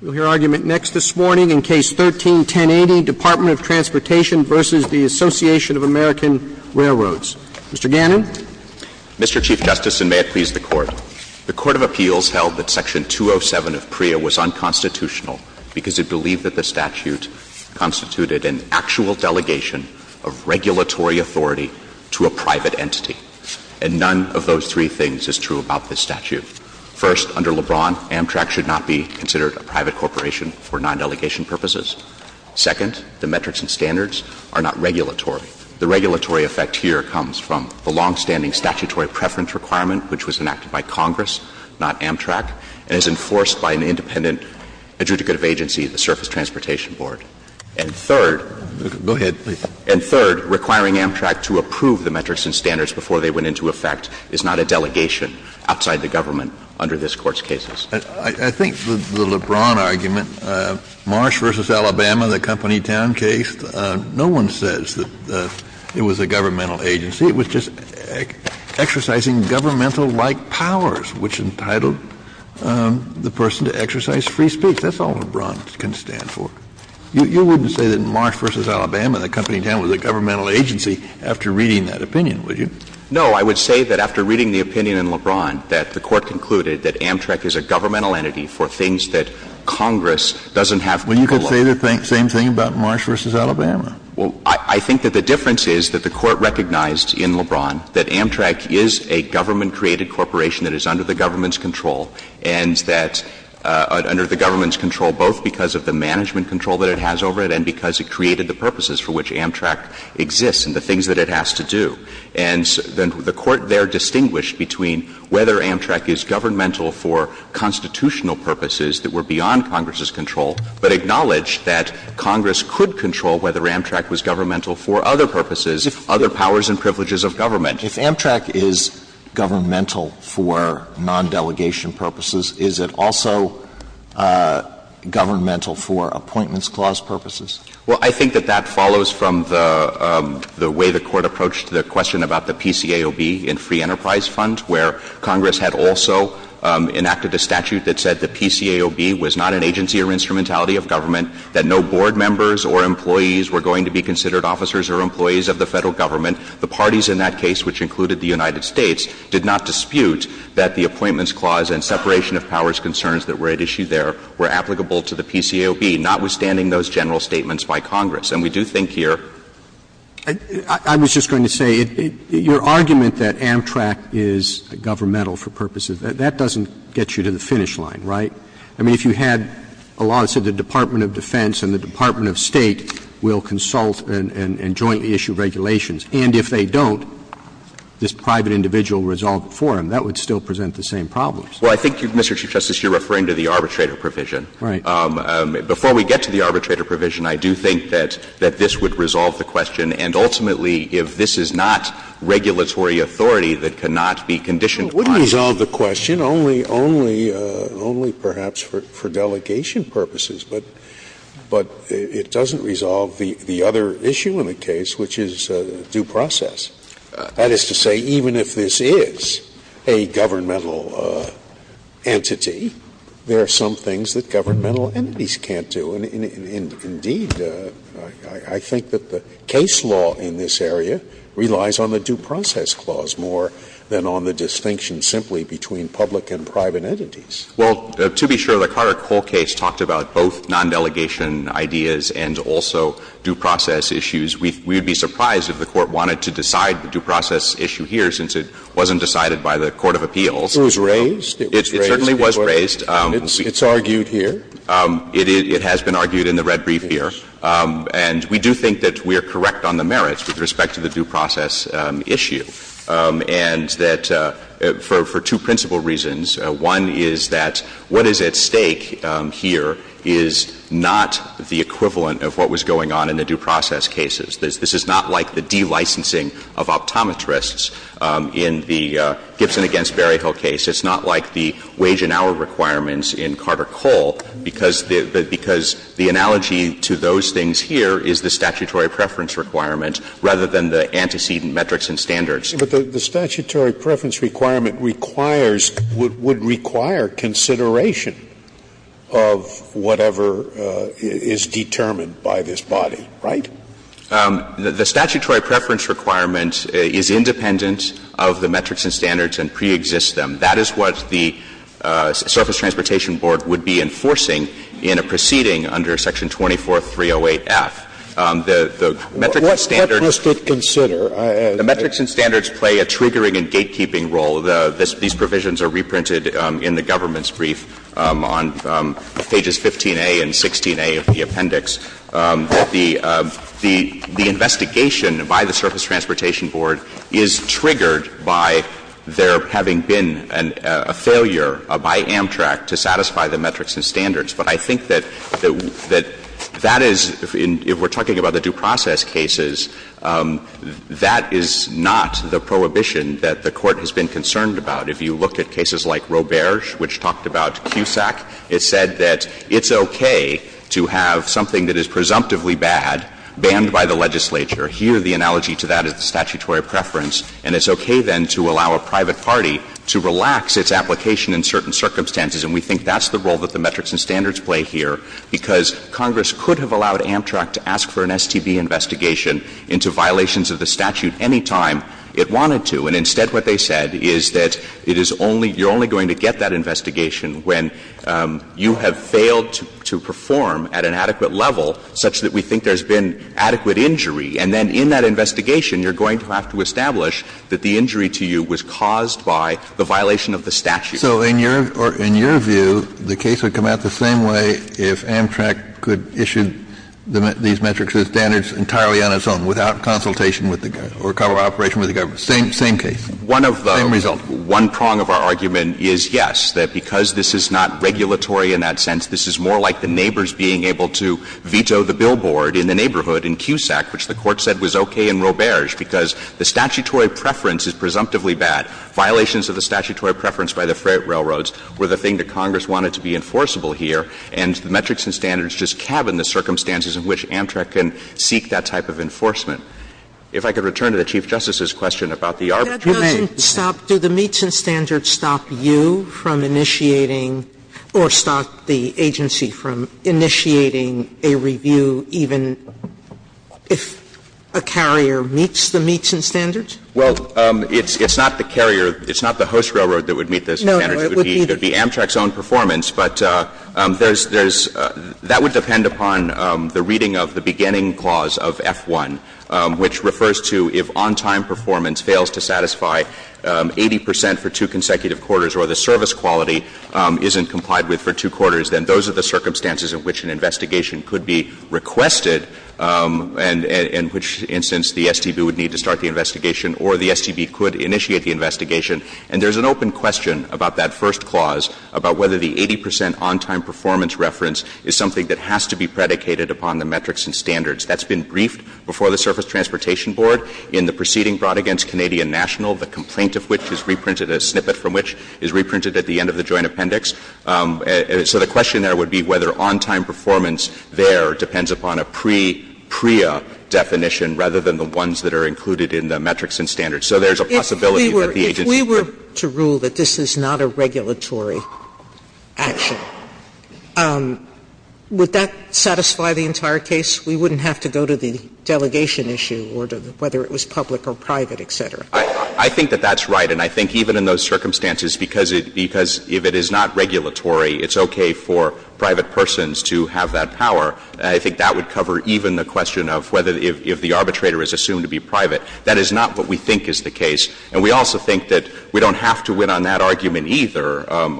We will hear argument next this morning in Case 13-1080, Department of Transportation v. Association of American Railroads. Mr. Gannon. Mr. Chief Justice, and may it please the Court, the Court of Appeals held that Section 207 of PREA was unconstitutional because it believed that the statute constituted an actual delegation of regulatory authority to a private entity. And none of those three things is true about this statute. First, under LeBron, Amtrak should not be considered a private corporation for non-delegation purposes. Second, the metrics and standards are not regulatory. The regulatory effect here comes from the longstanding statutory preference requirement, which was enacted by Congress, not Amtrak, and is enforced by an independent adjudicative agency, the Surface Transportation Board. And third, go ahead, please. And third, requiring Amtrak to approve the metrics and standards before they went into effect is not a delegation outside the government under this Court's cases. Kennedy. I think the LeBron argument, Marsh v. Alabama, the Company Town case, no one says that it was a governmental agency. It was just exercising governmental-like powers, which entitled the person to exercise free speech. That's all LeBron can stand for. You wouldn't say that in Marsh v. Alabama, the Company Town was a governmental agency after reading that opinion, would you? No. I would say that after reading the opinion in LeBron, that the Court concluded that Amtrak is a governmental entity for things that Congress doesn't have control over. Well, you could say the same thing about Marsh v. Alabama. Well, I think that the difference is that the Court recognized in LeBron that Amtrak is a government-created corporation that is under the government's control, and that under the government's control both because of the management control that it has over it and because it created the purposes for which Amtrak exists and the things that it has to do. And the Court there distinguished between whether Amtrak is governmental for constitutional purposes that were beyond Congress's control, but acknowledged that Congress could control whether Amtrak was governmental for other purposes, other powers and privileges of government. If Amtrak is governmental for nondelegation purposes, is it also governmental for Appointments Clause purposes? Well, I think that that follows from the way the Court approached the question about the PCAOB in Free Enterprise Fund, where Congress had also enacted a statute that said the PCAOB was not an agency or instrumentality of government, that no board members or employees were going to be considered officers or employees of the Federal government. The parties in that case, which included the United States, did not dispute that the Appointments Clause and separation of powers concerns that were at issue there were applicable to the PCAOB, notwithstanding those general statements by Congress. And we do think here that it's not. I was just going to say, your argument that Amtrak is governmental for purposes, that doesn't get you to the finish line, right? I mean, if you had a law that said the Department of Defense and the Department of State will consult and jointly issue regulations, and if they don't, this private individual resolved it for them, that would still present the same problems. Well, I think, Mr. Chief Justice, you're referring to the arbitrator provision. Right. Before we get to the arbitrator provision, I do think that this would resolve the question. And ultimately, if this is not regulatory authority that cannot be conditioned on the question. It wouldn't resolve the question, only perhaps for delegation purposes. But it doesn't resolve the other issue in the case, which is due process. That is to say, even if this is a governmental entity, there are some things that governmental entities can't do. And indeed, I think that the case law in this area relies on the due process clause more than on the distinction simply between public and private entities. Well, to be sure, the Carter Cole case talked about both non-delegation ideas and also due process issues. We would be surprised if the Court wanted to decide the due process issue here, since it wasn't decided by the court of appeals. It was raised. It was raised. It certainly was raised. It's argued here. It has been argued in the red brief here. And we do think that we are correct on the merits with respect to the due process issue, and that for two principal reasons. One is that what is at stake here is not the equivalent of what was going on in the due process cases. This is not like the de-licensing of optometrists in the Gibson v. Berryhill case. It's not like the wage and hour requirements in Carter Cole, because the analogy to those things here is the statutory preference requirement rather than the antecedent metrics and standards. Scalia. But the statutory preference requirement requires or would require consideration of whatever is determined by this body, right? The statutory preference requirement is independent of the metrics and standards and preexists them. That is what the Surface Transportation Board would be enforcing in a proceeding under Section 24308F. The metrics and standards. Scalia. What does it consider? The metrics and standards play a triggering and gatekeeping role. These provisions are reprinted in the government's brief on pages 15a and 16a of the appendix. The investigation by the Surface Transportation Board is triggered by there having been a failure by Amtrak to satisfy the metrics and standards. But I think that that is, if we're talking about the due process cases, that is not the prohibition that the Court has been concerned about. If you look at cases like Robertge, which talked about CUSAC, it said that it's okay to have something that is presumptively bad banned by the legislature. Here, the analogy to that is the statutory preference. And it's okay, then, to allow a private party to relax its application in certain circumstances. And we think that's the role that the metrics and standards play here, because Congress could have allowed Amtrak to ask for an STB investigation into violations of the statute any time it wanted to. And instead, what they said is that it is only — you're only going to get that to perform at an adequate level, such that we think there's been adequate injury. And then in that investigation, you're going to have to establish that the injury to you was caused by the violation of the statute. Kennedy, in your view, the case would come out the same way if Amtrak could issue these metrics and standards entirely on its own, without consultation with the government or cover operation with the government. Same case, same result. One of the — one prong of our argument is, yes, that because this is not regulatory in that sense, this is more like the neighbors being able to veto the billboard in the neighborhood in CUSAC, which the Court said was okay in Roberge, because the statutory preference is presumptively bad. Violations of the statutory preference by the freight railroads were the thing that Congress wanted to be enforceable here, and the metrics and standards just cabin the circumstances in which Amtrak can seek that type of enforcement. If I could return to the Chief Justice's question about the arbitrary— Sotomayor, do the metrics and standards stop you from initiating, or stop the agency from initiating a review even if a carrier meets the metrics and standards? Well, it's not the carrier, it's not the host railroad that would meet those standards. No, no. It would be Amtrak's own performance, but there's — that would depend upon the reading of the beginning clause of F-1, which refers to if on-time performance fails to satisfy 80 percent for two consecutive quarters, or the service quality isn't complied with for two quarters, then those are the circumstances in which an investigation could be requested, and in which instance the STB would need to start the investigation, or the STB could initiate the investigation. And there's an open question about that first clause, about whether the 80 percent on-time performance reference is something that has to be predicated upon the metrics and standards. That's been briefed before the Surface Transportation Board in the proceeding brought against Canadian National, the complaint of which is reprinted, a snippet from which is reprinted at the end of the Joint Appendix. So the question there would be whether on-time performance there depends upon a pre-PREA definition rather than the ones that are included in the metrics and standards. So there's a possibility that the agency could— Sotomayor, I'm not sure that this is not a regulatory action. Would that satisfy the entire case? We wouldn't have to go to the delegation issue or to whether it was public or private, et cetera. I think that that's right. And I think even in those circumstances, because it — because if it is not regulatory, it's okay for private persons to have that power. I think that would cover even the question of whether — if the arbitrator is assumed to be private. That is not what we think is the case. And we also think that we don't have to win on that argument either on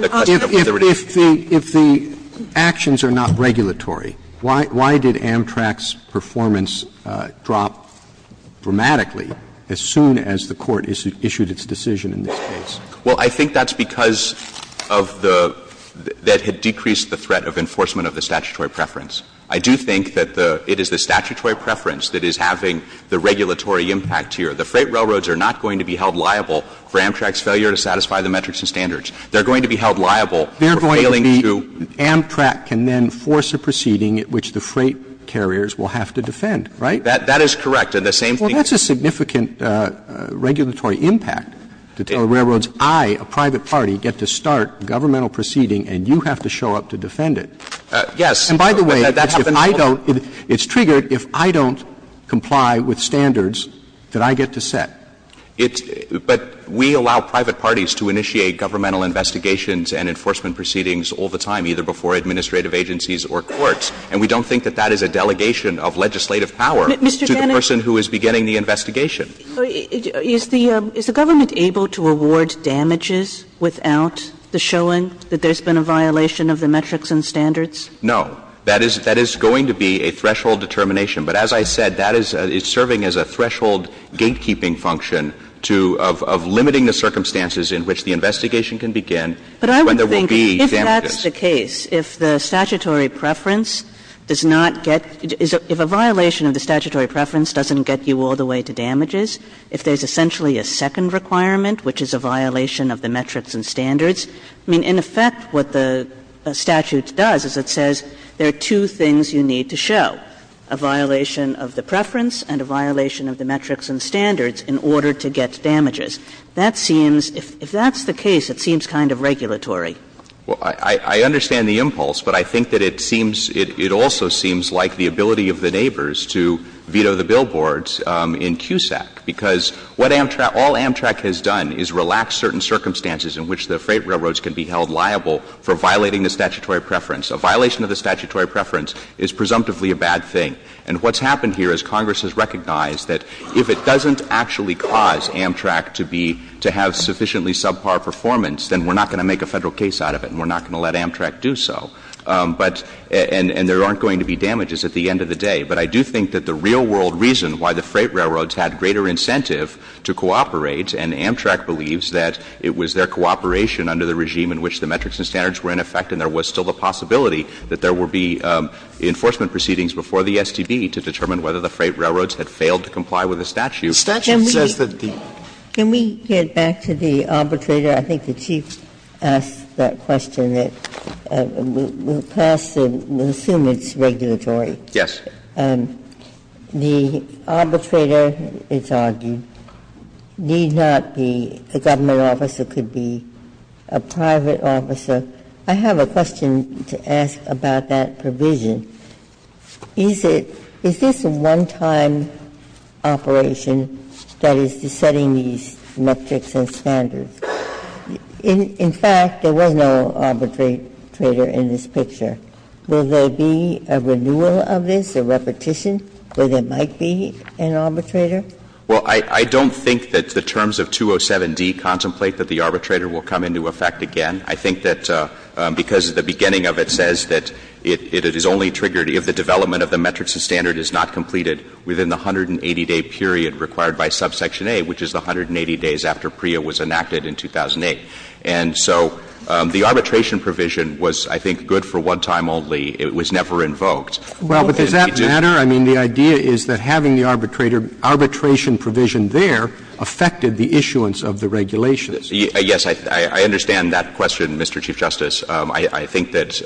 the question of whether it is— Roberts. If the actions are not regulatory, why did Amtrak's performance drop dramatically as soon as the Court issued its decision in this case? Well, I think that's because of the — that had decreased the threat of enforcement of the statutory preference. I do think that the — it is the statutory preference that is having the regulatory impact here. The freight railroads are not going to be held liable for Amtrak's failure to satisfy the metrics and standards. They're going to be held liable for failing to— They're going to be — Amtrak can then force a proceeding at which the freight carriers will have to defend, right? That is correct. And the same thing— Well, that's a significant regulatory impact to tell the railroads, I, a private party, get to start governmental proceeding and you have to show up to defend it. Yes. And by the way, if I don't — it's triggered if I don't comply with standards that I get to set. It's — but we allow private parties to initiate governmental investigations and enforcement proceedings all the time, either before administrative agencies or courts. And we don't think that that is a delegation of legislative power to the person who is beginning the investigation. Is the — is the government able to award damages without the showing that there's been a violation of the metrics and standards? No. That is — that is going to be a threshold determination. But as I said, that is serving as a threshold gatekeeping function to — of limiting the circumstances in which the investigation can begin when there will be damages. But I would think if that's the case, if the statutory preference does not get — if a violation of the statutory preference doesn't get you all the way to damages, if there's essentially a second requirement, which is a violation of the metrics and standards, I mean, in effect what the statute does is it says there are two things you need to show, a violation of the preference and a violation of the metrics and standards in order to get damages. That seems — if that's the case, it seems kind of regulatory. Well, I — I understand the impulse, but I think that it seems — it also seems like the ability of the neighbors to veto the billboards in CUSAC, because what Amtrak — all Amtrak has done is relaxed certain circumstances in which the freight railroads can be held liable for violating the statutory preference. A violation of the statutory preference is presumptively a bad thing. And what's happened here is Congress has recognized that if it doesn't actually cause Amtrak to be — to have sufficiently subpar performance, then we're not going to make a Federal case out of it and we're not going to let Amtrak do so. But — and there aren't going to be damages at the end of the day. But I do think that the real-world reason why the freight railroads had greater incentive to cooperate, and Amtrak believes that it was their cooperation under the regime in that there was still the possibility that there would be enforcement proceedings before the STB to determine whether the freight railroads had failed to comply with the statute. Statute says that the — Ginsburg. Can we get back to the arbitrator? I think the Chief asked that question. We'll pass and assume it's regulatory. Yes. The arbitrator, it's argued, need not be a government officer, could be a private officer. I have a question to ask about that provision. Is it — is this a one-time operation that is setting these metrics and standards? In fact, there was no arbitrator in this picture. Will there be a renewal of this, a repetition, where there might be an arbitrator? Well, I don't think that the terms of 207d contemplate that the arbitrator will come into effect again. I think that because the beginning of it says that it is only triggered if the development of the metrics and standard is not completed within the 180-day period required by subsection A, which is the 180 days after PREA was enacted in 2008. And so the arbitration provision was, I think, good for one time only. It was never invoked. Well, but does that matter? I mean, the idea is that having the arbitrator, arbitration provision there affected the issuance of the regulations. Yes, I understand that question, Mr. Chief Justice. I think that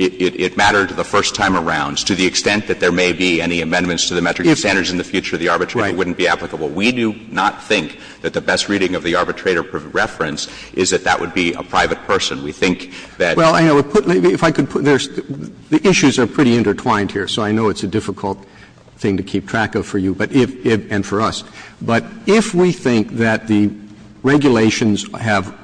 it mattered the first time around to the extent that there may be any amendments to the metrics and standards in the future, the arbitrator wouldn't be applicable. We do not think that the best reading of the arbitrator reference is that that would be a private person. We think that the issues are pretty intertwined here, so I know it's a difficult thing to keep track of for you and for us. But if we think that the regulations have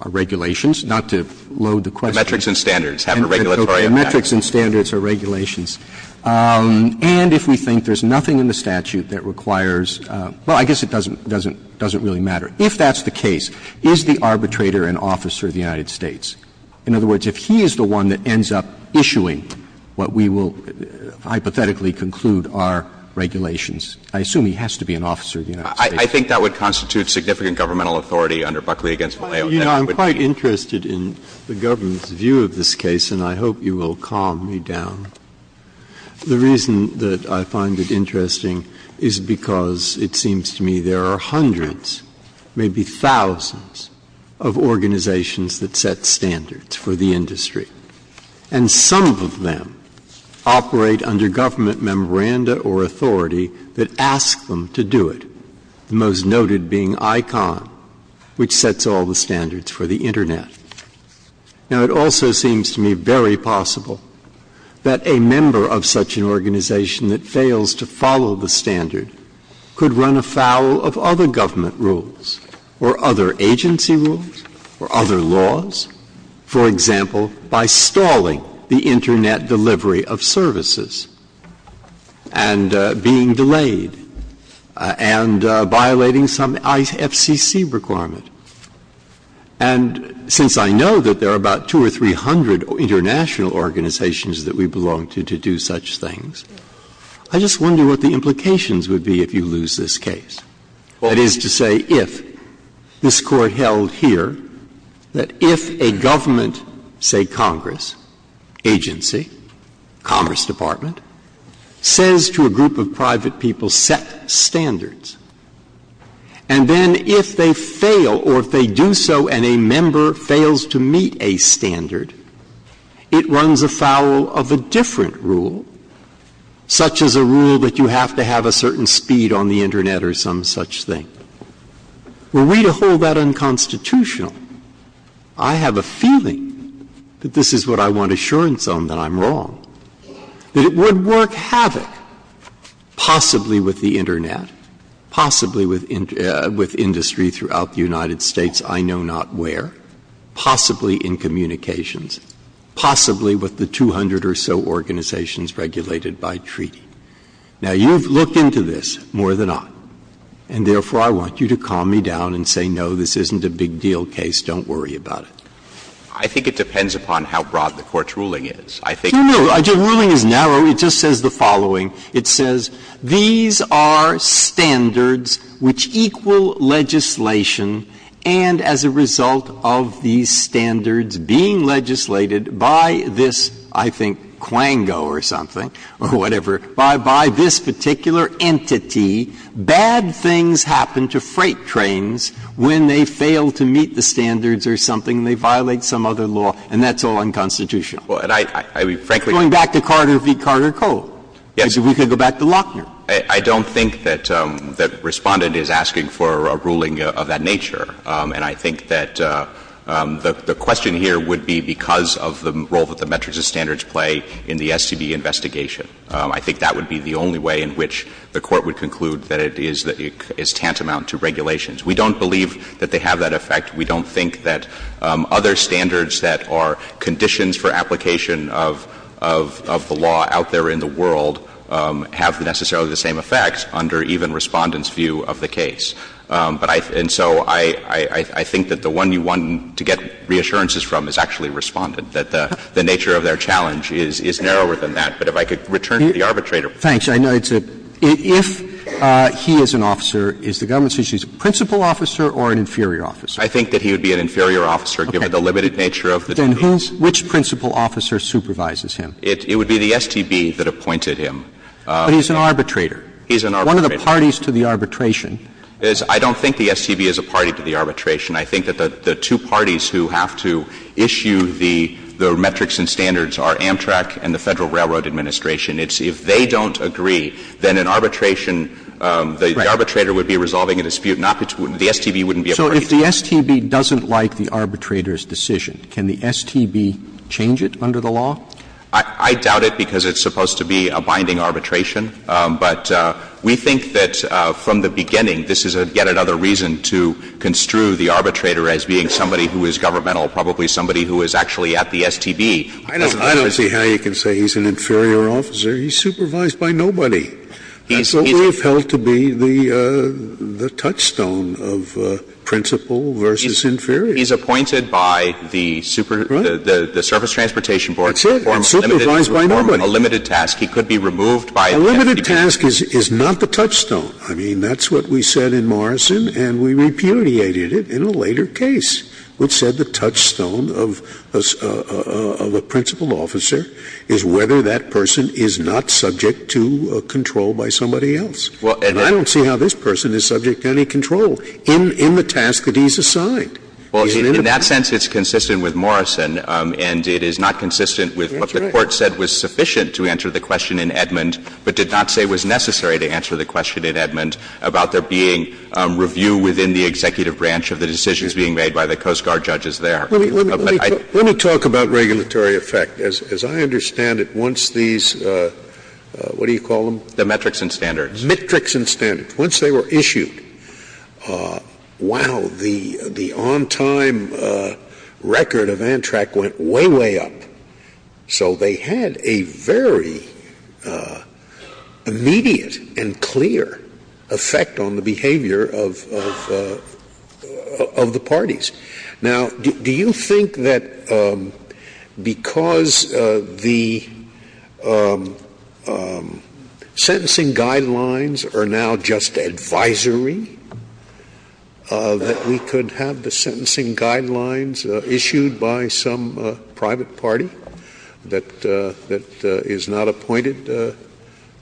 or regulations, not to load the question. Metrics and standards have a regulatory effect. Metrics and standards are regulations. And if we think there's nothing in the statute that requires – well, I guess it doesn't really matter. If that's the case, is the arbitrator an officer of the United States? In other words, if he is the one that ends up issuing what we will hypothetically conclude are regulations. I assume he has to be an officer of the United States. I think that would constitute significant governmental authority under Buckley v. Vallejo. You know, I'm quite interested in the government's view of this case, and I hope you will calm me down. The reason that I find it interesting is because it seems to me there are hundreds, maybe thousands, of organizations that set standards for the industry. And some of them operate under government memoranda or authority that ask them to do it, the most noted being ICON, which sets all the standards for the Internet. Now, it also seems to me very possible that a member of such an organization that fails to follow the standard could run afoul of other government rules or other agency rules or other laws, for example, by stalling the Internet delivery of services and being delayed and violating some IFCC requirement. And since I know that there are about 200 or 300 international organizations that we belong to to do such things, I just wonder what the implications would be if you lose this case. That is to say, if this Court held here that if a government, say Congress, agency, Commerce Department, says to a group of private people, set standards, and then if they fail or if they do so and a member fails to meet a standard, it runs afoul of a government, it runs afoul of some such thing, were we to hold that unconstitutional, I have a feeling that this is what I want assurance on, that I'm wrong, that it would work havoc possibly with the Internet, possibly with industry throughout the United States, I know not where, possibly in communications, possibly with the 200 or so organizations regulated by treaty. Now, you've looked into this more than I, and therefore, I want you to calm me down and say, no, this isn't a big deal case, don't worry about it. I think it depends upon how broad the Court's ruling is. I think it's a broad case. Breyer. No, no. The ruling is narrow. It just says the following. It says, these are standards which equal legislation and as a result of these standards being legislated by this, I think, Quango or something or whatever, by this particular entity, bad things happen to freight trains when they fail to meet the standards or something, they violate some other law, and that's all unconstitutional. I mean, frankly going back to Carter v. Carter Coe, as if we could go back to Lochner. I don't think that Respondent is asking for a ruling of that nature, and I think that the question here would be because of the role that the metrics of standards play in the STB investigation. I think that would be the only way in which the Court would conclude that it is tantamount to regulations. We don't believe that they have that effect. We don't think that other standards that are conditions for application of the law out there in the world have necessarily the same effect under even Respondent's view of the case. And so I think that the one you want to get reassurances from is actually Respondent, that the nature of their challenge is narrower than that. But if I could return to the arbitrator. Roberts. Roberts. I know it's a – if he is an officer, is the government's decision, is he a principal officer or an inferior officer? I think that he would be an inferior officer, given the limited nature of the STB. Okay. Then who's – which principal officer supervises him? It would be the STB that appointed him. But he's an arbitrator. He's an arbitrator. One of the parties to the arbitration. I don't think the STB is a party to the arbitration. I think that the two parties who have to issue the metrics and standards are Amtrak and the Federal Railroad Administration. It's if they don't agree, then an arbitration – the arbitrator would be resolving a dispute, not the – the STB wouldn't be a party to it. So if the STB doesn't like the arbitrator's decision, can the STB change it under the law? I doubt it because it's supposed to be a binding arbitration. But we think that from the beginning, this is yet another reason to construe the arbitrator as being somebody who is governmental, probably somebody who is actually at the STB. I don't see how you can say he's an inferior officer. He's supervised by nobody. That's what we have held to be the – the touchstone of principal versus inferior. He's appointed by the super – the surface transportation board. That's it. And supervised by nobody. He performs a limited task. He could be removed by the STB. A limited task is – is not the touchstone. I mean, that's what we said in Morrison, and we repudiated it in a later case, which said the touchstone of a – of a principal officer is whether that person is not subject to control by somebody else. And I don't see how this person is subject to any control in – in the task that he's assigned. Well, in that sense, it's consistent with Morrison, and it is not consistent with what the Court said was sufficient to answer the question in Edmond, but did not say was necessary to answer the question in Edmond about there being review within the executive branch of the decisions being made by the Coast Guard judges there. Let me talk about regulatory effect. As I understand it, once these – what do you call them? The metrics and standards. Metrics and standards. Once they were issued, wow, the on-time record of ANTRAC went way, way up. So they had a very immediate and clear effect on the behavior of – of the parties. Now, do you think that because the sentencing guidelines are now just advisory, that we could have the sentencing guidelines issued by some private party that – that is not appointed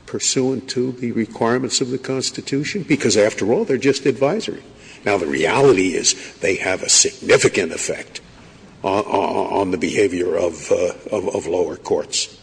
pursuant to the requirements of the Constitution? Because, after all, they're just advisory. Now, the reality is they have a significant effect on the behavior of lower courts.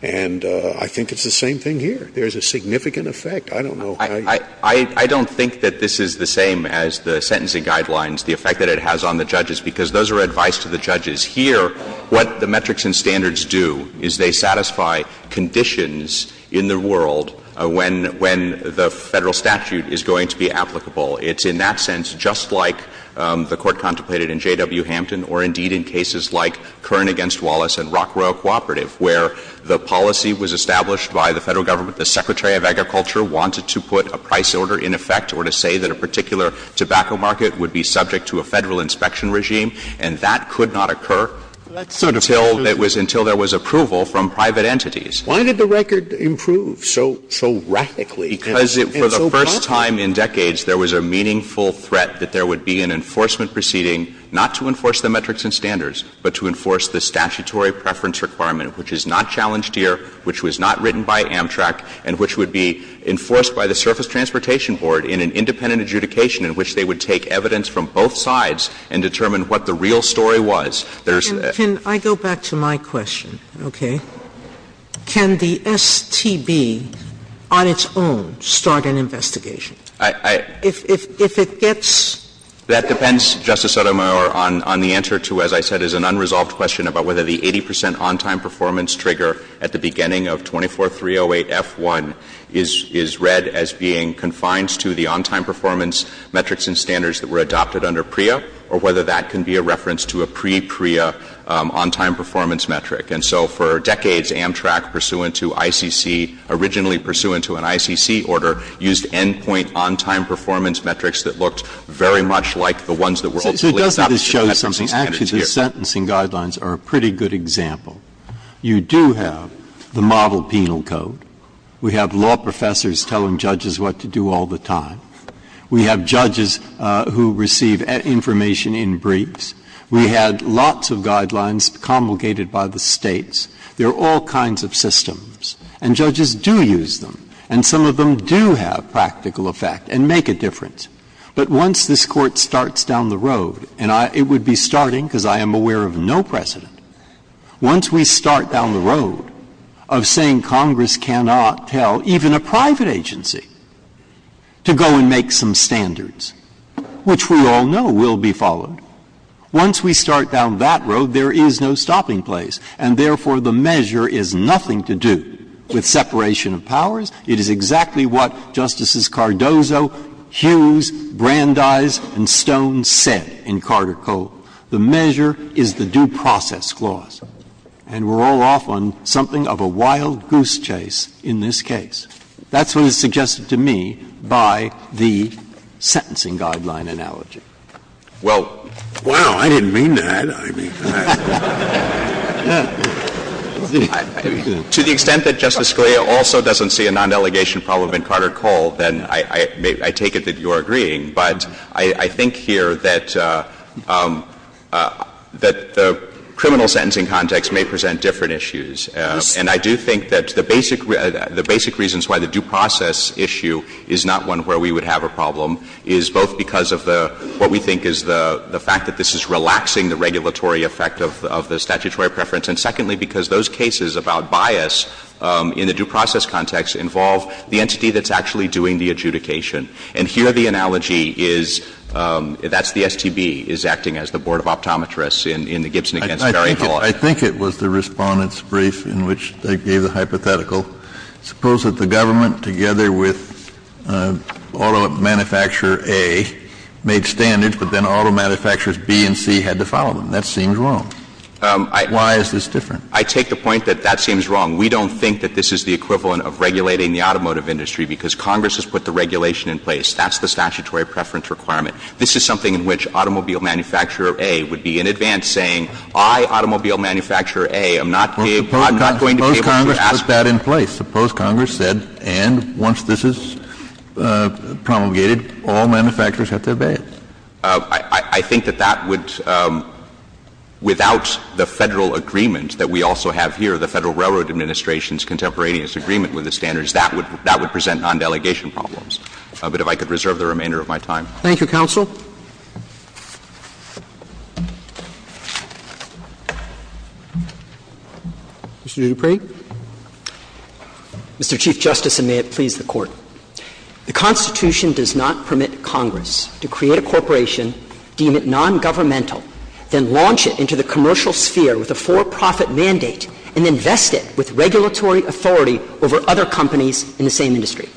And I think it's the same thing here. There's a significant effect. I don't know how you see it. I don't think that this is the same as the sentencing guidelines, the effect that it has on the judges, because those are advice to the judges. Here, what the metrics and standards do is they satisfy conditions in the world when the Federal statute is going to be applicable. It's in that sense just like the Court contemplated in J.W. Hampton or indeed in cases like Kern v. Wallace and Rockwell Cooperative, where the policy was established by the Federal government, the Secretary of Agriculture wanted to put a price order in effect or to say that a particular tobacco market would be subject to a Federal inspection regime, and that could not occur until it was – until there was approval from private entities. Sotomayor, why did the record improve so – so radically? Because for the first time in decades, there was a meaningful threat that there would be an enforcement proceeding not to enforce the metrics and standards, but to enforce the statutory preference requirement, which is not challenged here, which was not written by Amtrak, and which would be enforced by the Surface Transportation Board in an independent adjudication in which they would take evidence from both sides and determine what the real story was. There's a – Sotomayor, can I go back to my question? Okay. Can the STB on its own start an investigation? I – I – If – if it gets – That depends, Justice Sotomayor, on – on the answer to, as I said, is an unresolved question about whether the 80 percent on-time performance trigger at the beginning of 24308F1 is – is read as being confined to the on-time performance metrics and standards that were adopted under PREA, or whether that can be a reference to a pre-PREA on-time performance metric. And so for decades, Amtrak, pursuant to ICC – originally pursuant to an ICC order, used end-point on-time performance metrics that looked very much like the ones that were ultimately adopted by the FCC standards here. I think that the sentencing guidelines are a pretty good example. You do have the model penal code. We have law professors telling judges what to do all the time. We have judges who receive information in briefs. We had lots of guidelines commulgated by the States. There are all kinds of systems, and judges do use them, and some of them do have practical effect and make a difference. But once this Court starts down the road, and it would be starting because I am aware of no precedent, once we start down the road of saying Congress cannot tell even a private agency to go and make some standards, which we all know will be followed, once we start down that road, there is no stopping place, and therefore, the measure is nothing to do with separation of powers. It is exactly what Justices Cardozo, Hughes, Brandeis, and Stone said in Carter Coe. The measure is the due process clause, and we're all off on something of a wild goose chase in this case. That's what is suggested to me by the sentencing guideline analogy. Well, wow, I didn't mean that. To the extent that Justice Scalia also doesn't see a non-delegation problem in Carter Coe, then I take it that you are agreeing. But I think here that the criminal sentencing context may present different issues. And I do think that the basic reasons why the due process issue is not one where we would have a problem is both because of the — what we think is the fact that this is relaxing the regulatory effect of the statutory preference, and secondly, because those cases about bias in the due process context involve the entity that's actually doing the adjudication. And here the analogy is — that's the STB is acting as the board of optometrists in the Gibson v. Berry law. Kennedy, I think it was the Respondent's brief in which they gave the hypothetical. Suppose that the government, together with auto manufacturer A, made standards, but then auto manufacturers B and C had to follow them. That seems wrong. Why is this different? I take the point that that seems wrong. We don't think that this is the equivalent of regulating the automotive industry because Congress has put the regulation in place. That's the statutory preference requirement. This is something in which automobile manufacturer A would be in advance saying, I, automobile manufacturer A, am not going to pay what you ask for. Suppose Congress put that in place. Suppose Congress said, and once this is promulgated, all manufacturers have to obey it. I think that that would, without the Federal agreement that we also have here, the Federal Railroad Administration's contemporaneous agreement with the standards, that would — that would present non-delegation problems. But if I could reserve the remainder of my time. Roberts. Thank you, counsel. Mr. Dupree. Mr. Chief Justice, and may it please the Court. The Constitution does not permit Congress to create a corporation, deem it non-governmental, then launch it into the commercial sphere with a for-profit mandate, and invest it with regulatory authority over other companies in the same industry.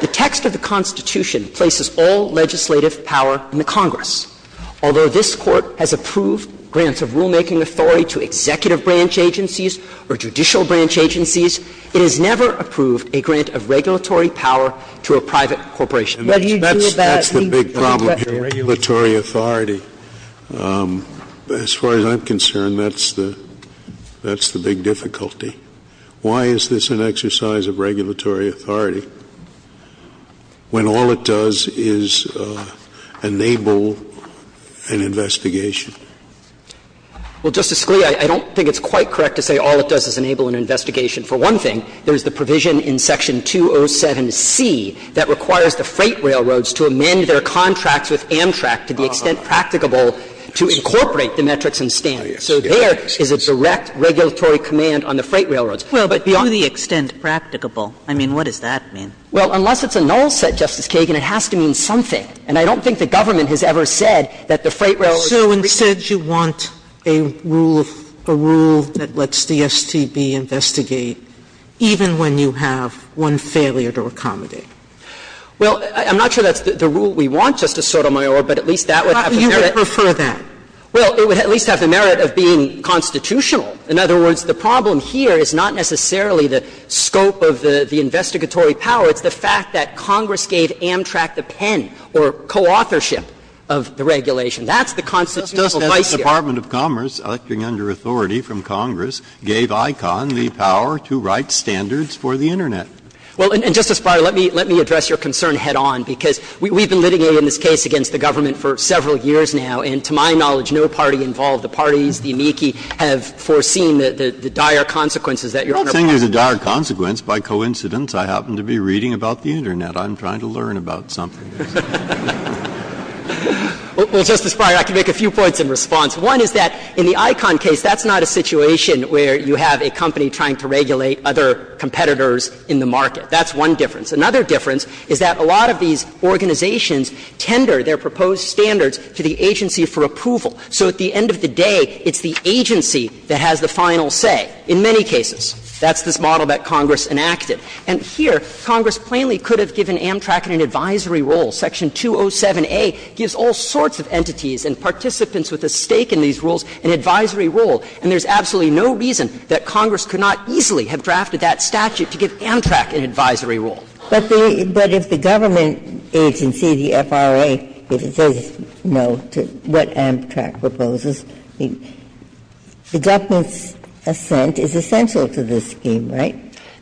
The text of the Constitution places all legislative power in the Congress. Although this Court has approved grants of rulemaking authority to executive branch agencies or judicial branch agencies, it has never approved a grant of regulatory power to a private corporation. Whether you deal with that, I think, is a question. Scalia. That's the big problem here, regulatory authority. As far as I'm concerned, that's the — that's the big difficulty. Why is this an exercise of regulatory authority when all it does is enable an investigation? Well, Justice Scalia, I don't think it's quite correct to say all it does is enable an investigation. For one thing, there's the provision in Section 207C that requires the freight railroads to amend their contracts with Amtrak to the extent practicable to incorporate the metrics and standards. So there is a direct regulatory command on the freight railroads. But beyond — Well, but to the extent practicable. I mean, what does that mean? Well, unless it's a null set, Justice Kagan, it has to mean something. are — So instead you want a rule of — a rule that lets DSTB investigate even when you have one failure to accommodate? Well, I'm not sure that's the rule we want, Justice Sotomayor, but at least that would have the merit. You would prefer that. Well, it would at least have the merit of being constitutional. In other words, the problem here is not necessarily the scope of the investigatory power. It's the fact that Congress gave Amtrak the pen or co-authorship of the regulation. That's the constitutional device here. Justice, the Department of Commerce, acting under authority from Congress, gave ICON the power to write standards for the Internet. Well, and, Justice Breyer, let me address your concern head on, because we've been litigating in this case against the government for several years now, and to my knowledge no party involved, the parties, the amici, have foreseen the dire consequences that Your Honor plans to have. I'm not saying there's a dire consequence. By coincidence, I happen to be reading about the Internet. I'm trying to learn about something. Well, Justice Breyer, I can make a few points in response. One is that in the ICON case, that's not a situation where you have a company trying to regulate other competitors in the market. That's one difference. Another difference is that a lot of these organizations tender their proposed standards to the agency for approval. So at the end of the day, it's the agency that has the final say in many cases. That's this model that Congress enacted. And here, Congress plainly could have given Amtrak an advisory role. Section 207a gives all sorts of entities and participants with a stake in these rules an advisory role, and there's absolutely no reason that Congress could not easily have drafted that statute to give Amtrak an advisory role. Ginsburg. But if the government agency, the FRA, if it says no to what Amtrak proposes, the government's assent is essential to this scheme, right?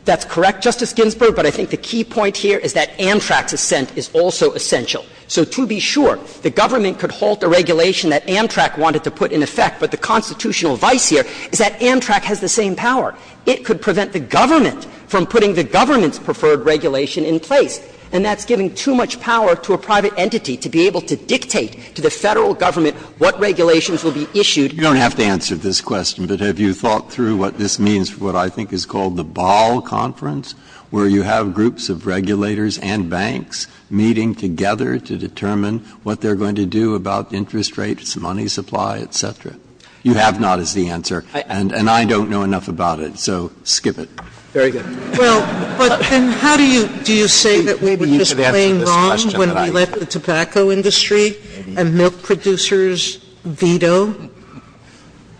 That's correct, Justice Ginsburg. But I think the key point here is that Amtrak's assent is also essential. So to be sure, the government could halt a regulation that Amtrak wanted to put in effect, but the constitutional vice here is that Amtrak has the same power. It could prevent the government from putting the government's preferred regulation in place, and that's giving too much power to a private entity to be able to dictate to the Federal Government what regulations will be issued. You don't have to answer this question, but have you thought through what this means for what I think is called the Ball Conference, where you have groups of regulators and banks meeting together to determine what they're going to do about interest rates, money supply, et cetera? You have not, is the answer, and I don't know enough about it, so skip it. Very good. Well, but then how do you do you say that we were just playing wrong when we let the tobacco industry and milk producers veto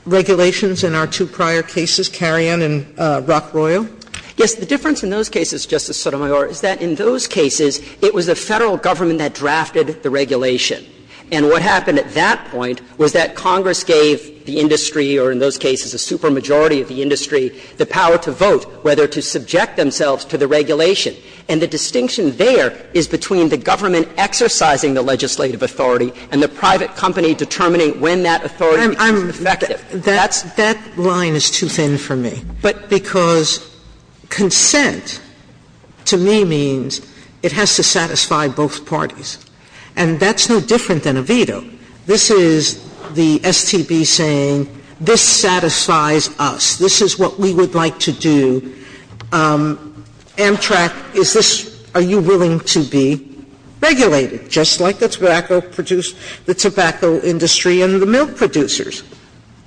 regulations in our two prior cases, Carrion and Rock Royal? Yes. The difference in those cases, Justice Sotomayor, is that in those cases, it was the Federal Government that drafted the regulation. And what happened at that point was that Congress gave the industry, or in those cases a supermajority of the industry, the power to vote whether to subject themselves to the regulation. And the distinction there is between the government exercising the legislative authority and the private company determining when that authority is effective. That's – that line is too thin for me. But because consent, to me, means it has to satisfy both parties. And that's no different than a veto. This is the STB saying, this satisfies us, this is what we would like to do. Amtrak, is this – are you willing to be regulated, just like the tobacco – the tobacco industry and the milk producers?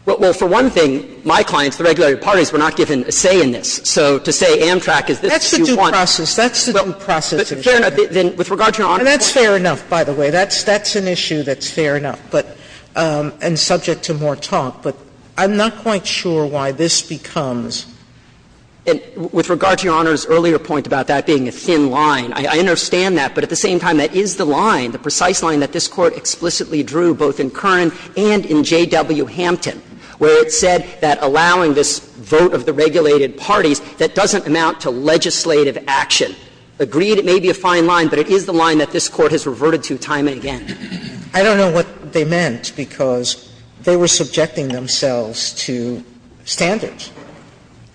Well, for one thing, my clients, the regulatory parties, were not given a say in this. So to say Amtrak is this is what you want. That's the due process. That's the due process. Fair enough. Then with regard to Your Honor's point – That's fair enough, by the way. That's – that's an issue that's fair enough, but – and subject to more talk. But I'm not quite sure why this becomes – And with regard to Your Honor's earlier point about that being a thin line, I understand that, but at the same time, that is the line, the precise line that this Court explicitly drew, both in Kern and in J.W. Hampton, where it said that allowing this vote of the regulated parties, that doesn't amount to legislative action. Agreed, it may be a fine line, but it is the line that this Court has reverted to time and again. I don't know what they meant, because they were subjecting themselves to standards.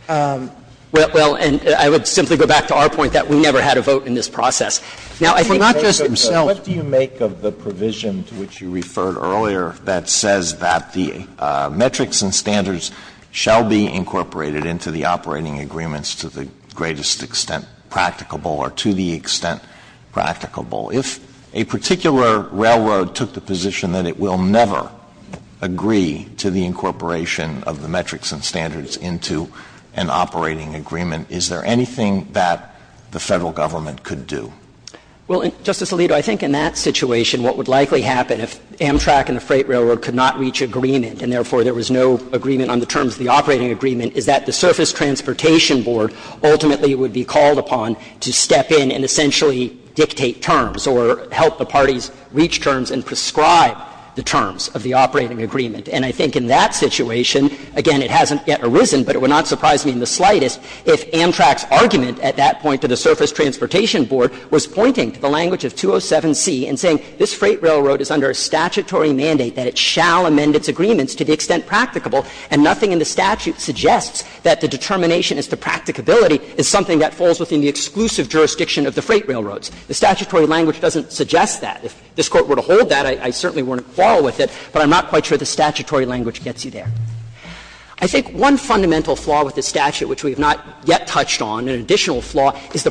Well, and I would simply go back to our point that we never had a vote in this process. Now, I think for not just themselves – Justice Alito, I think in that situation, what would likely happen if there was a Federal government that would agree to the incorporation of the metrics and standards into an operating agreement, is there anything that the Federal government could do? Well, Justice Alito, I think in that situation, what would likely happen, if the Federal government, if Amtrak and the Freight Railroad could not reach agreement, and therefore there was no agreement on the terms of the operating agreement, is that the Surface Transportation Board ultimately would be called upon to step in and essentially dictate terms, or help the parties reach terms and prescribe the terms of the operating agreement. And I think in that situation, again, it hasn't yet arisen, but it would not surprise me in the slightest if Amtrak's argument at that point to the Surface Transportation Board was pointing to the language of 207C and saying, this Freight Railroad is under a statutory mandate that it shall amend its agreements to the extent practicable, and nothing in the statute suggests that the determination as to practicability is something that falls within the exclusive jurisdiction of the Freight Railroads. The statutory language doesn't suggest that. If this Court were to hold that, I certainly wouldn't quarrel with it, but I'm not quite sure the statutory language gets you there. I think one fundamental flaw with the statute, which we have not yet touched on, an is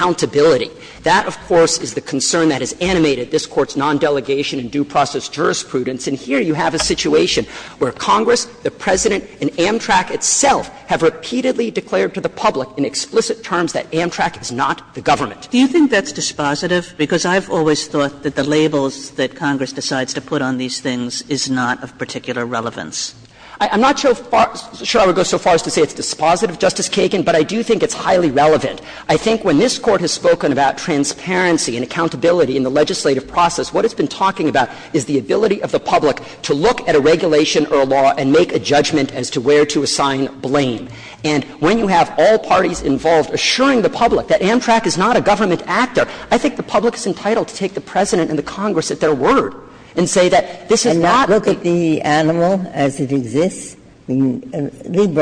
accountability. That, of course, is the concern that has animated this Court's nondelegation in due process jurisprudence. And here you have a situation where Congress, the President, and Amtrak itself have repeatedly declared to the public in explicit terms that Amtrak is not the government. Kagan, because I've always thought that the labels that Congress decides to put on these things is not of particular relevance. I'm not sure I would go so far as to say it's dispositive, Justice Kagan, but I do think it's highly relevant. I think when this Court has spoken about transparency and accountability in the legislative process, what it's been talking about is the ability of the public to look at a regulation or a law and make a judgment as to where to assign blame. And when you have all parties involved assuring the public that Amtrak is not a government actor, I think the public is entitled to take the President and the Congress at their word and say that this is not the animal as it exists. Ginsburg,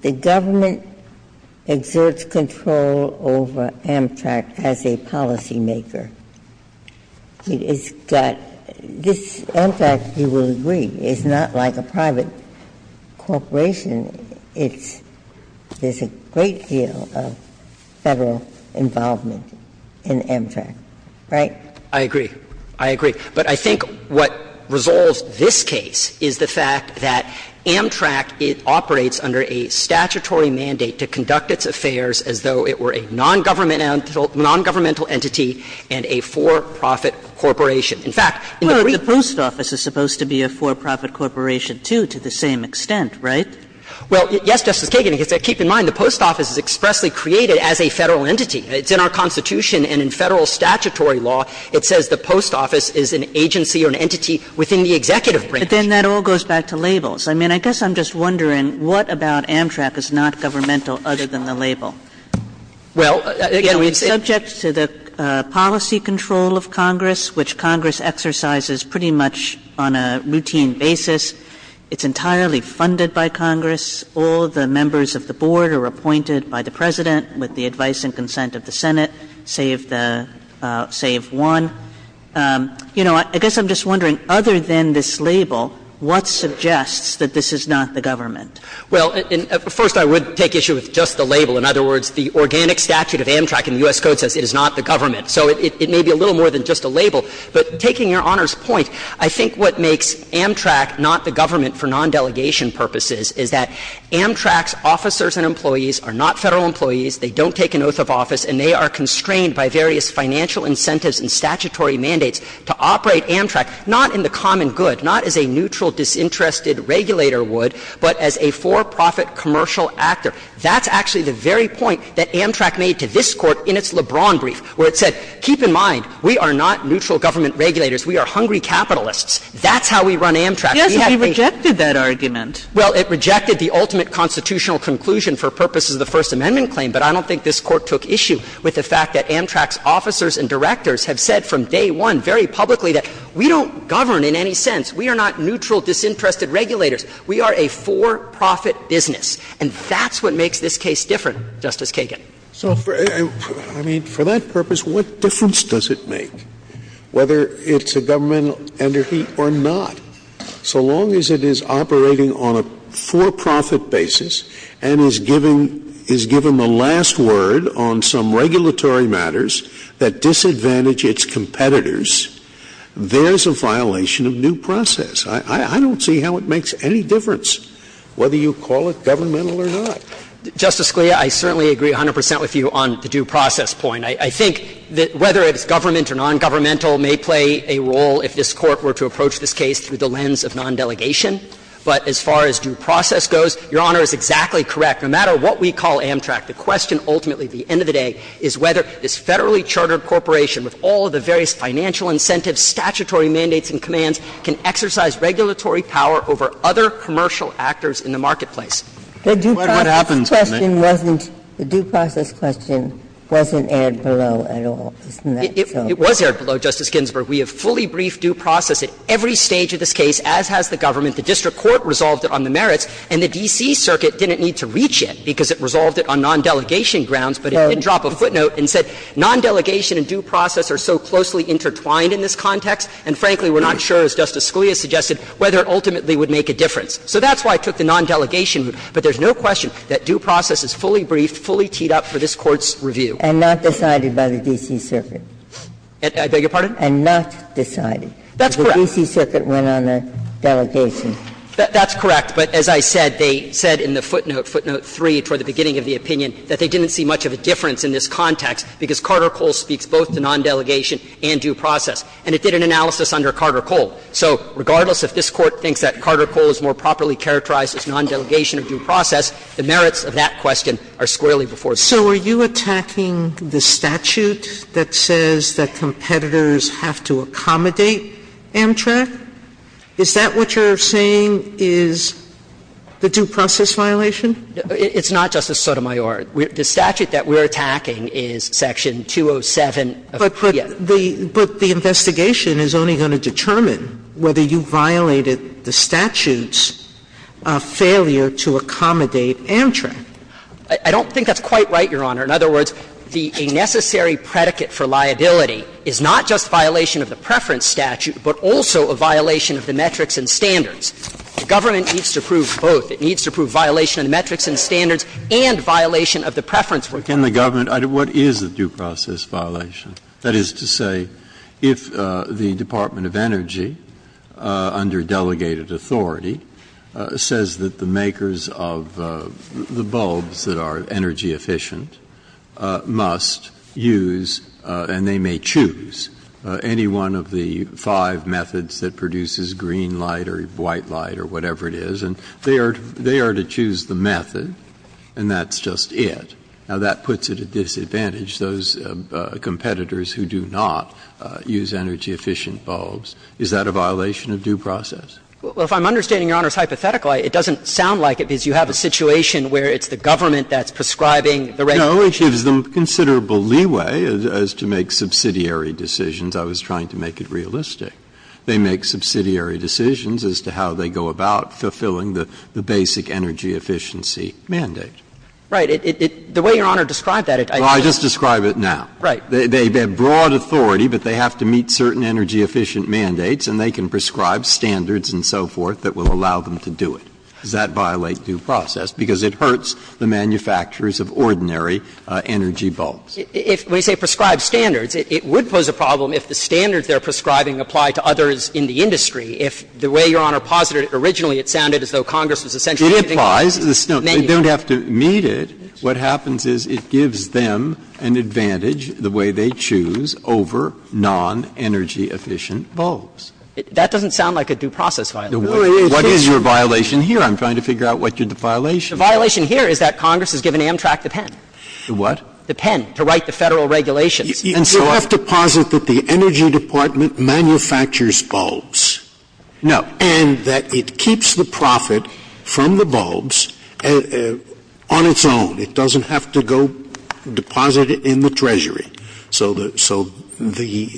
the government exerts control over Amtrak as a policymaker. It's got this Amtrak, you will agree, is not like a private corporation. It's there's a great deal of Federal involvement in Amtrak, right? I agree. I agree. But I think what resolves this case is the fact that Amtrak, it operates under a statutory mandate to conduct its affairs as though it were a non-governmental entity and a for-profit corporation. In fact, in the brief The Post Office is supposed to be a for-profit corporation, too, to the same extent, right? Well, yes, Justice Kagan. Keep in mind, the Post Office is expressly created as a Federal entity. It's in our Constitution, and in Federal statutory law, it says the Post Office is an agency or an entity within the executive branch. But then that all goes back to labels. I mean, I guess I'm just wondering what about Amtrak is not governmental other than the label? Well, again, we've seen It's subject to the policy control of Congress, which Congress exercises pretty much on a routine basis. It's entirely funded by Congress. All the members of the board are appointed by the President with the advice and consent of the Senate, save the save one. You know, I guess I'm just wondering, other than this label, what suggests that this is not the government? Well, first, I would take issue with just the label. In other words, the organic statute of Amtrak in the U.S. Code says it is not the government. So it may be a little more than just a label. But I would take issue with the fact that the argument for non-delegation purposes is that Amtrak's officers and employees are not Federal employees, they don't take an oath of office, and they are constrained by various financial incentives and statutory mandates to operate Amtrak, not in the common good, not as a neutral, disinterested regulator would, but as a for-profit commercial actor. That's actually the very point that Amtrak made to this Court in its LeBron brief, where it said, keep in mind, we are not neutral government regulators. We are hungry capitalists. That's how we run Amtrak. We have the ---- Kagan. We rejected that argument. Well, it rejected the ultimate constitutional conclusion for purposes of the First Amendment claim, but I don't think this Court took issue with the fact that Amtrak's officers and directors have said from day one, very publicly, that we don't govern in any sense. We are not neutral, disinterested regulators. We are a for-profit business. And that's what makes this case different, Justice Kagan. So, I mean, for that purpose, what difference does it make, whether it's a governmental underheat or not? So long as it is operating on a for-profit basis and is giving the last word on some regulatory matters that disadvantage its competitors, there's a violation of new process. I don't see how it makes any difference whether you call it governmental or not. Justice Scalia, I certainly agree 100 percent with you on the due process point. I think that whether it's government or nongovernmental may play a role if this Court were to approach this case through the lens of nondelegation. But as far as due process goes, Your Honor is exactly correct. No matter what we call Amtrak, the question ultimately at the end of the day is whether this federally chartered corporation, with all of the various financial incentives, statutory mandates and commands, can exercise regulatory power over other commercial actors in the marketplace. The due process question wasn't aired below at all, isn't that so? It was aired below, Justice Ginsburg. We have fully briefed due process at every stage of this case, as has the government. The district court resolved it on the merits, and the D.C. Circuit didn't need to reach it because it resolved it on nondelegation grounds, but it did drop a footnote and said nondelegation and due process are so closely intertwined in this context, and frankly, we're not sure, as Justice Scalia suggested, whether it ultimately would make a difference. So that's why it took the nondelegation, but there's no question that due process is fully briefed, fully teed up for this Court's review. And not decided by the D.C. Circuit? I beg your pardon? And not decided. That's correct. The D.C. Circuit went on a delegation. That's correct, but as I said, they said in the footnote, footnote 3, toward the beginning of the opinion, that they didn't see much of a difference in this context because Carter-Cole speaks both to nondelegation and due process, and it did an analysis under Carter-Cole. So regardless if this Court thinks that Carter-Cole is more properly characterized as nondelegation or due process, the merits of that question are squarely before Sotomayor. So are you attacking the statute that says that competitors have to accommodate Amtrak? Is that what you're saying is the due process violation? It's not, Justice Sotomayor. The statute that we're attacking is Section 207 of the CFPB. But the investigation is only going to determine whether you violated the statute's failure to accommodate Amtrak. I don't think that's quite right, Your Honor. In other words, the necessary predicate for liability is not just violation of the preference statute, but also a violation of the metrics and standards. The government needs to prove both. It needs to prove violation of the metrics and standards and violation of the preference work. But can the government – what is the due process violation? That is to say, if the Department of Energy, under delegated authority, says that the makers of the bulbs that are energy efficient must use, and they may choose, any one of the five methods that produces green light or white light or whatever it is, and they are to choose the method, and that's just it. Now, that puts it at disadvantage, those competitors who do not use energy efficient bulbs. Is that a violation of due process? Well, if I'm understanding Your Honor's hypothetical, it doesn't sound like it, because you have a situation where it's the government that's prescribing the regulations. No, it gives them considerable leeway as to make subsidiary decisions. I was trying to make it realistic. They make subsidiary decisions as to how they go about fulfilling the basic energy efficiency mandate. Right. The way Your Honor described that, I just don't think it's a violation of due process. Well, I just describe it now. Right. They have broad authority, but they have to meet certain energy efficient mandates, and they can prescribe standards and so forth that will allow them to do it. Does that violate due process? Because it hurts the manufacturers of ordinary energy bulbs. If we say prescribe standards, it would pose a problem if the standards they are prescribing apply to others in the industry, if the way Your Honor posited it originally, it sounded as though Congress was essentially giving them manuals. It applies. They don't have to meet it. What happens is it gives them an advantage, the way they choose, over non-energy efficient bulbs. That doesn't sound like a due process violation. What is your violation here? I'm trying to figure out what your violation is. The violation here is that Congress has given Amtrak the pen. The what? The pen to write the Federal regulations. And so I'm going to say that the energy department manufactures bulbs. No. And that it keeps the profit from the bulbs on its own. It doesn't have to go deposit it in the treasury. So the so the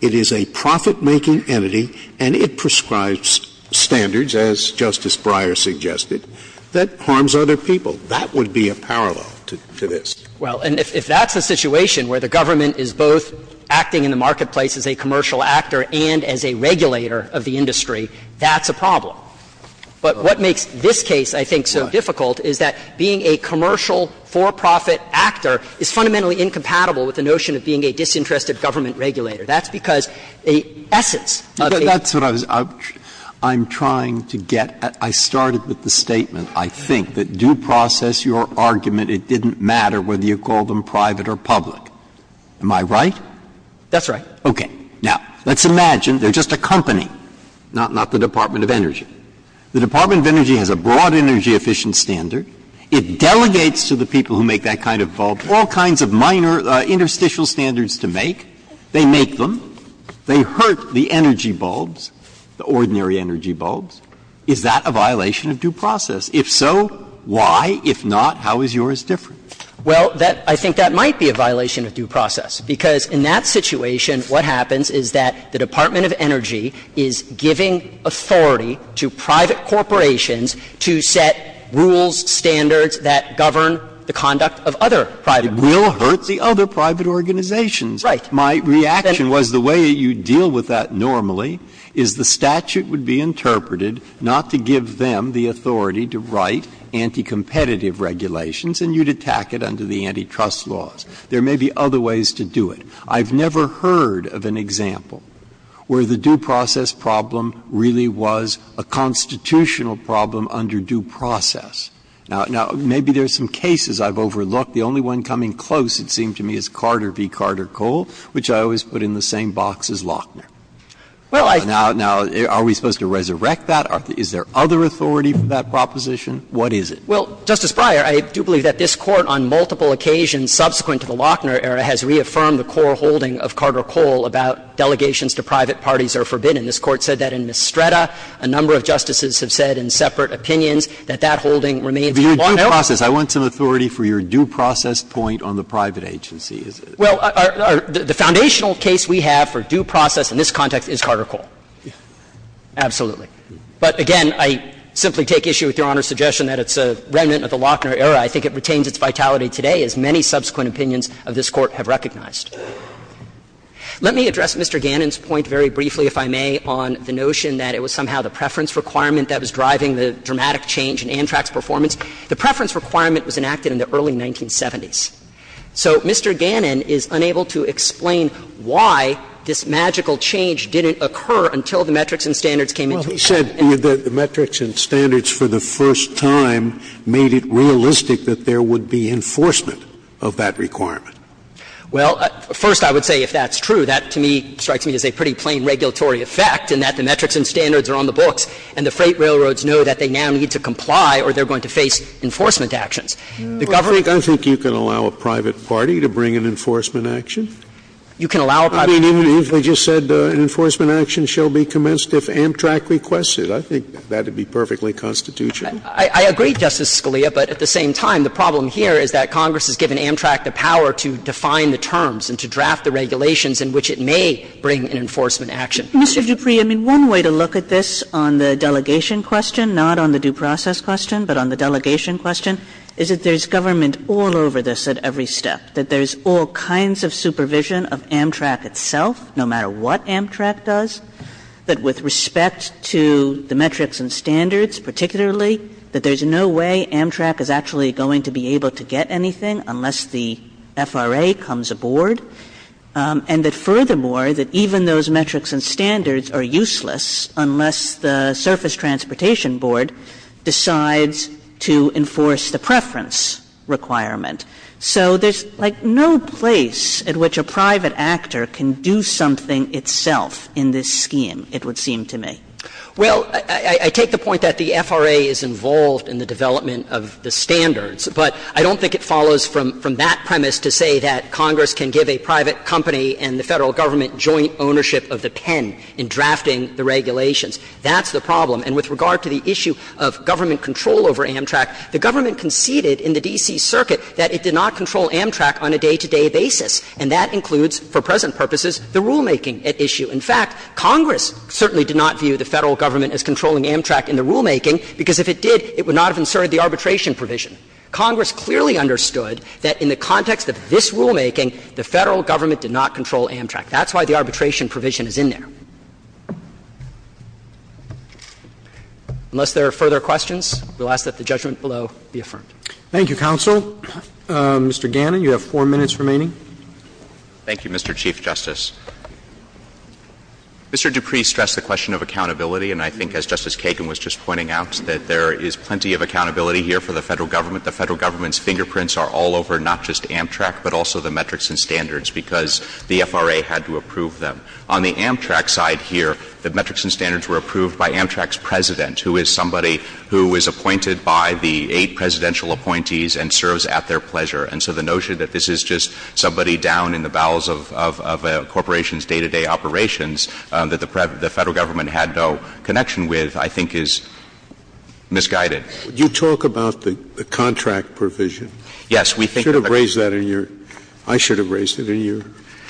it is a profit-making entity, and it prescribes standards, as Justice Breyer suggested, that harms other people. That would be a parallel to this. Well, and if that's a situation where the government is both acting in the marketplace as a commercial actor and as a regulator of the industry, that's a problem. But what makes this case, I think, so difficult is that being a commercial for-profit actor is fundamentally incompatible with the notion of being a disinterested government regulator. That's because the essence of the That's what I was I'm trying to get. I started with the statement, I think, that due process, your argument, it didn't matter whether you call them private or public. Am I right? That's right. Okay. Now, let's imagine they're just a company, not the Department of Energy. The Department of Energy has a broad energy-efficient standard. It delegates to the people who make that kind of bulb all kinds of minor interstitial standards to make. They make them. They hurt the energy bulbs, the ordinary energy bulbs. Is that a violation of due process? If so, why? If not, how is yours different? Well, that I think that might be a violation of due process, because in that situation what happens is that the Department of Energy is giving authority to private corporations to set rules, standards that govern the conduct of other private organizations. It will hurt the other private organizations. Right. My reaction was the way you deal with that normally is the statute would be interpreted not to give them the authority to write anti-competitive regulations, and you'd attack it under the antitrust laws. There may be other ways to do it. I've never heard of an example where the due process problem really was a constitutional problem under due process. Now, maybe there are some cases I've overlooked. The only one coming close, it seemed to me, is Carter v. Carter-Cole, which I always put in the same box as Lochner. Now, are we supposed to resurrect that? Is there other authority for that proposition? What is it? Well, Justice Breyer, I do believe that this Court on multiple occasions subsequent to the Lochner era has reaffirmed the core holding of Carter-Cole about delegations to private parties are forbidden. This Court said that in Mistretta. A number of justices have said in separate opinions that that holding remains a long-held. But your due process, I want some authority for your due process point on the private agency. Well, the foundational case we have for due process in this context is Carter-Cole. Absolutely. But again, I simply take issue with Your Honor's suggestion that it's a remnant of the Lochner era. I think it retains its vitality today, as many subsequent opinions of this Court have recognized. Let me address Mr. Gannon's point very briefly, if I may, on the notion that it was somehow the preference requirement that was driving the dramatic change in ANTRAC's performance. The preference requirement was enacted in the early 1970s. So Mr. Gannon is unable to explain why this magical change didn't occur until the metrics and standards came into play. And I'm not saying that the metrics and standards for the first time made it realistic that there would be enforcement of that requirement. Well, first, I would say if that's true, that to me strikes me as a pretty plain regulatory effect in that the metrics and standards are on the books and the freight railroads know that they now need to comply or they're going to face enforcement actions. The government can't do that. I think you can allow a private party to bring an enforcement action. You can allow a private party to bring an enforcement action. And I think the question is, if you allow a private party to bring an enforcement action, then the enforcement action shall be commenced if ANTRAC requests it. I think that would be perfectly constitutional. I agree, Justice Scalia, but at the same time, the problem here is that Congress has given ANTRAC the power to define the terms and to draft the regulations in which it may bring an enforcement action. Mr. Dupree, I mean, one way to look at this on the delegation question, not on the due process question, but on the delegation question, is that there's government all over this at every step, that there's all kinds of supervision of ANTRAC itself, no matter what ANTRAC does, that with respect to the metrics and standards particularly, that there's no way ANTRAC is actually going to be able to get anything unless the FRA comes aboard, and that furthermore, that even those metrics and standards are useless unless the Surface Transportation Board decides to enforce the preference requirement. So there's, like, no place at which a private actor can do something itself in this scheme, it would seem to me. Well, I take the point that the FRA is involved in the development of the standards, but I don't think it follows from that premise to say that Congress can give a private company and the Federal Government joint ownership of the pen in drafting the regulations. That's the problem. And with regard to the issue of government control over ANTRAC, the government conceded in the D.C. Circuit that it did not control ANTRAC on a day-to-day basis, and that includes, for present purposes, the rulemaking at issue. In fact, Congress certainly did not view the Federal Government as controlling ANTRAC in the rulemaking, because if it did, it would not have inserted the arbitration provision. Congress clearly understood that in the context of this rulemaking, the Federal Government did not control ANTRAC. That's why the arbitration provision is in there. Unless there are further questions, we'll ask that the judgment below be affirmed. Thank you, counsel. Mr. Gannon, you have four minutes remaining. Thank you, Mr. Chief Justice. Mr. Dupree stressed the question of accountability, and I think, as Justice Kagan was just pointing out, that there is plenty of accountability here for the Federal Government. The Federal Government's fingerprints are all over not just ANTRAC, but also the metrics and standards, because the FRA had to approve them. On the ANTRAC side here, the metrics and standards were approved by ANTRAC's And so the notion that this is somebody who is appointed by the eight presidential appointees and serves at their pleasure, and so the notion that this is just somebody down in the bowels of a corporation's day-to-day operations that the Federal Government had no connection with, I think, is misguided. Would you talk about the contract provision? Yes. We think that the We should have raised that in your – I should have raised it in your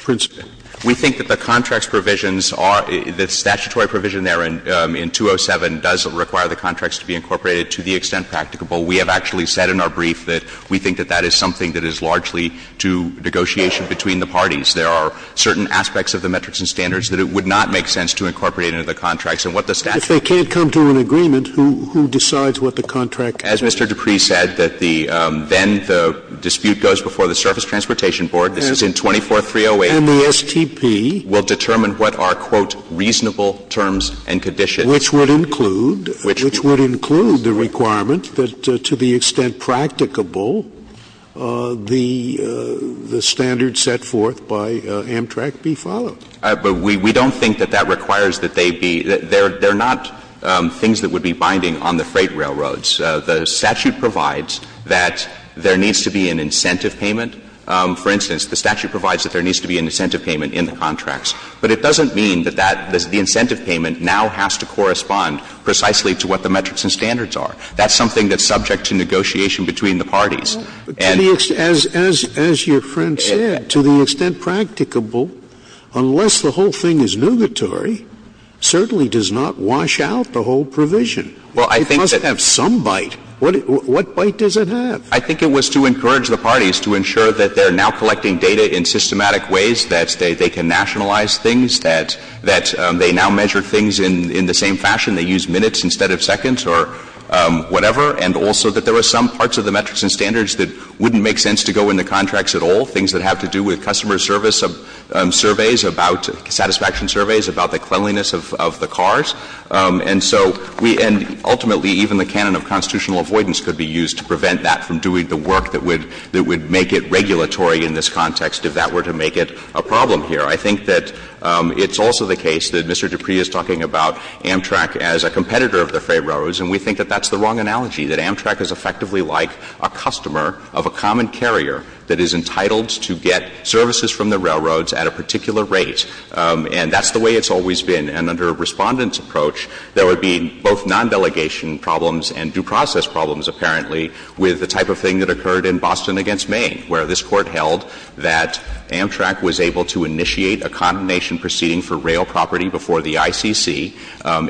principle. We think that the contracts provisions are – the statutory provision there in 207 does require the contracts to be incorporated to the extent practicable. We have actually said in our brief that we think that that is something that is largely to negotiation between the parties. There are certain aspects of the metrics and standards that it would not make sense to incorporate into the contracts. And what the statute If they can't come to an agreement, who decides what the contract As Mr. Dupree said, that the – then the dispute goes before the Surface Transportation Board. This is in 24308. And the STP will determine what are, quote, reasonable terms and conditions. Which would include, which would include the requirement that to the extent practicable, the standard set forth by Amtrak be followed. But we don't think that that requires that they be – they're not things that would be binding on the freight railroads. The statute provides that there needs to be an incentive payment. For instance, the statute provides that there needs to be an incentive payment in the contracts. But it doesn't mean that that – the incentive payment now has to correspond precisely to what the metrics and standards are. That's something that's subject to negotiation between the parties. And the extent as your friend said, to the extent practicable, unless the whole thing is nugatory, certainly does not wash out the whole provision. It must have some bite. What bite does it have? I think it was to encourage the parties to ensure that they're now collecting data in systematic ways, that they can nationalize things, that they now measure things in the same fashion. They use minutes instead of seconds or whatever. And also that there are some parts of the metrics and standards that wouldn't make sense to go in the contracts at all, things that have to do with customer service of surveys about – satisfaction surveys about the cleanliness of the cars. And so we – and ultimately, even the canon of constitutional avoidance could be used to prevent that from doing the work that would make it regulatory in this context if that were to make it a problem here. I think that it's also the case that Mr. Dupree is talking about Amtrak as a competitor of the freight railroads, and we think that that's the wrong analogy, that Amtrak is effectively like a customer of a common carrier that is entitled to get services from the railroads at a particular rate, and that's the way it's always been. And under Respondent's approach, there would be both non-delegation problems and due process problems, apparently, with the type of thing that occurred in Boston v. Maine, where this Court held that Amtrak was able to initiate a condemnation proceeding for rail property before the ICC,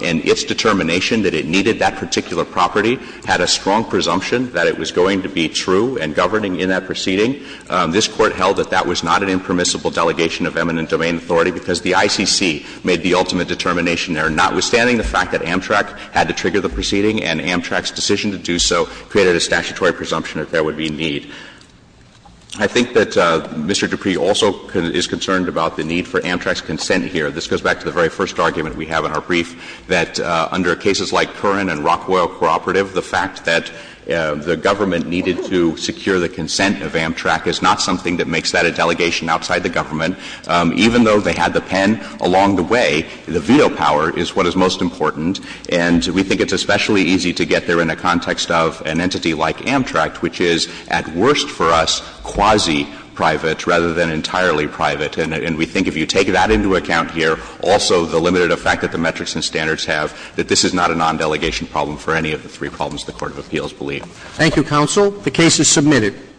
and its determination that it needed that particular property had a strong presumption that it was going to be true and governing in that proceeding. This Court held that that was not an impermissible delegation of eminent domain authority because the ICC made the ultimate determination there, notwithstanding the fact that Amtrak had to trigger the proceeding and Amtrak's decision to do so created a statutory presumption that there would be a need. I think that Mr. Dupree also is concerned about the need for Amtrak's consent here. This goes back to the very first argument we have in our brief, that under cases like Curran and Rockwell Cooperative, the fact that the government needed to secure the consent of Amtrak is not something that makes that a delegation outside the government. Even though they had the pen along the way, the veto power is what is most important. And we think it's especially easy to get there in a context of an entity like Amtrak, which is at worst for us quasi-private rather than entirely private. And we think if you take that into account here, also the limited effect that the metrics and standards have, that this is not a non-delegation problem for any of the three problems the court of appeals believe. Roberts. Thank you, counsel. The case is submitted.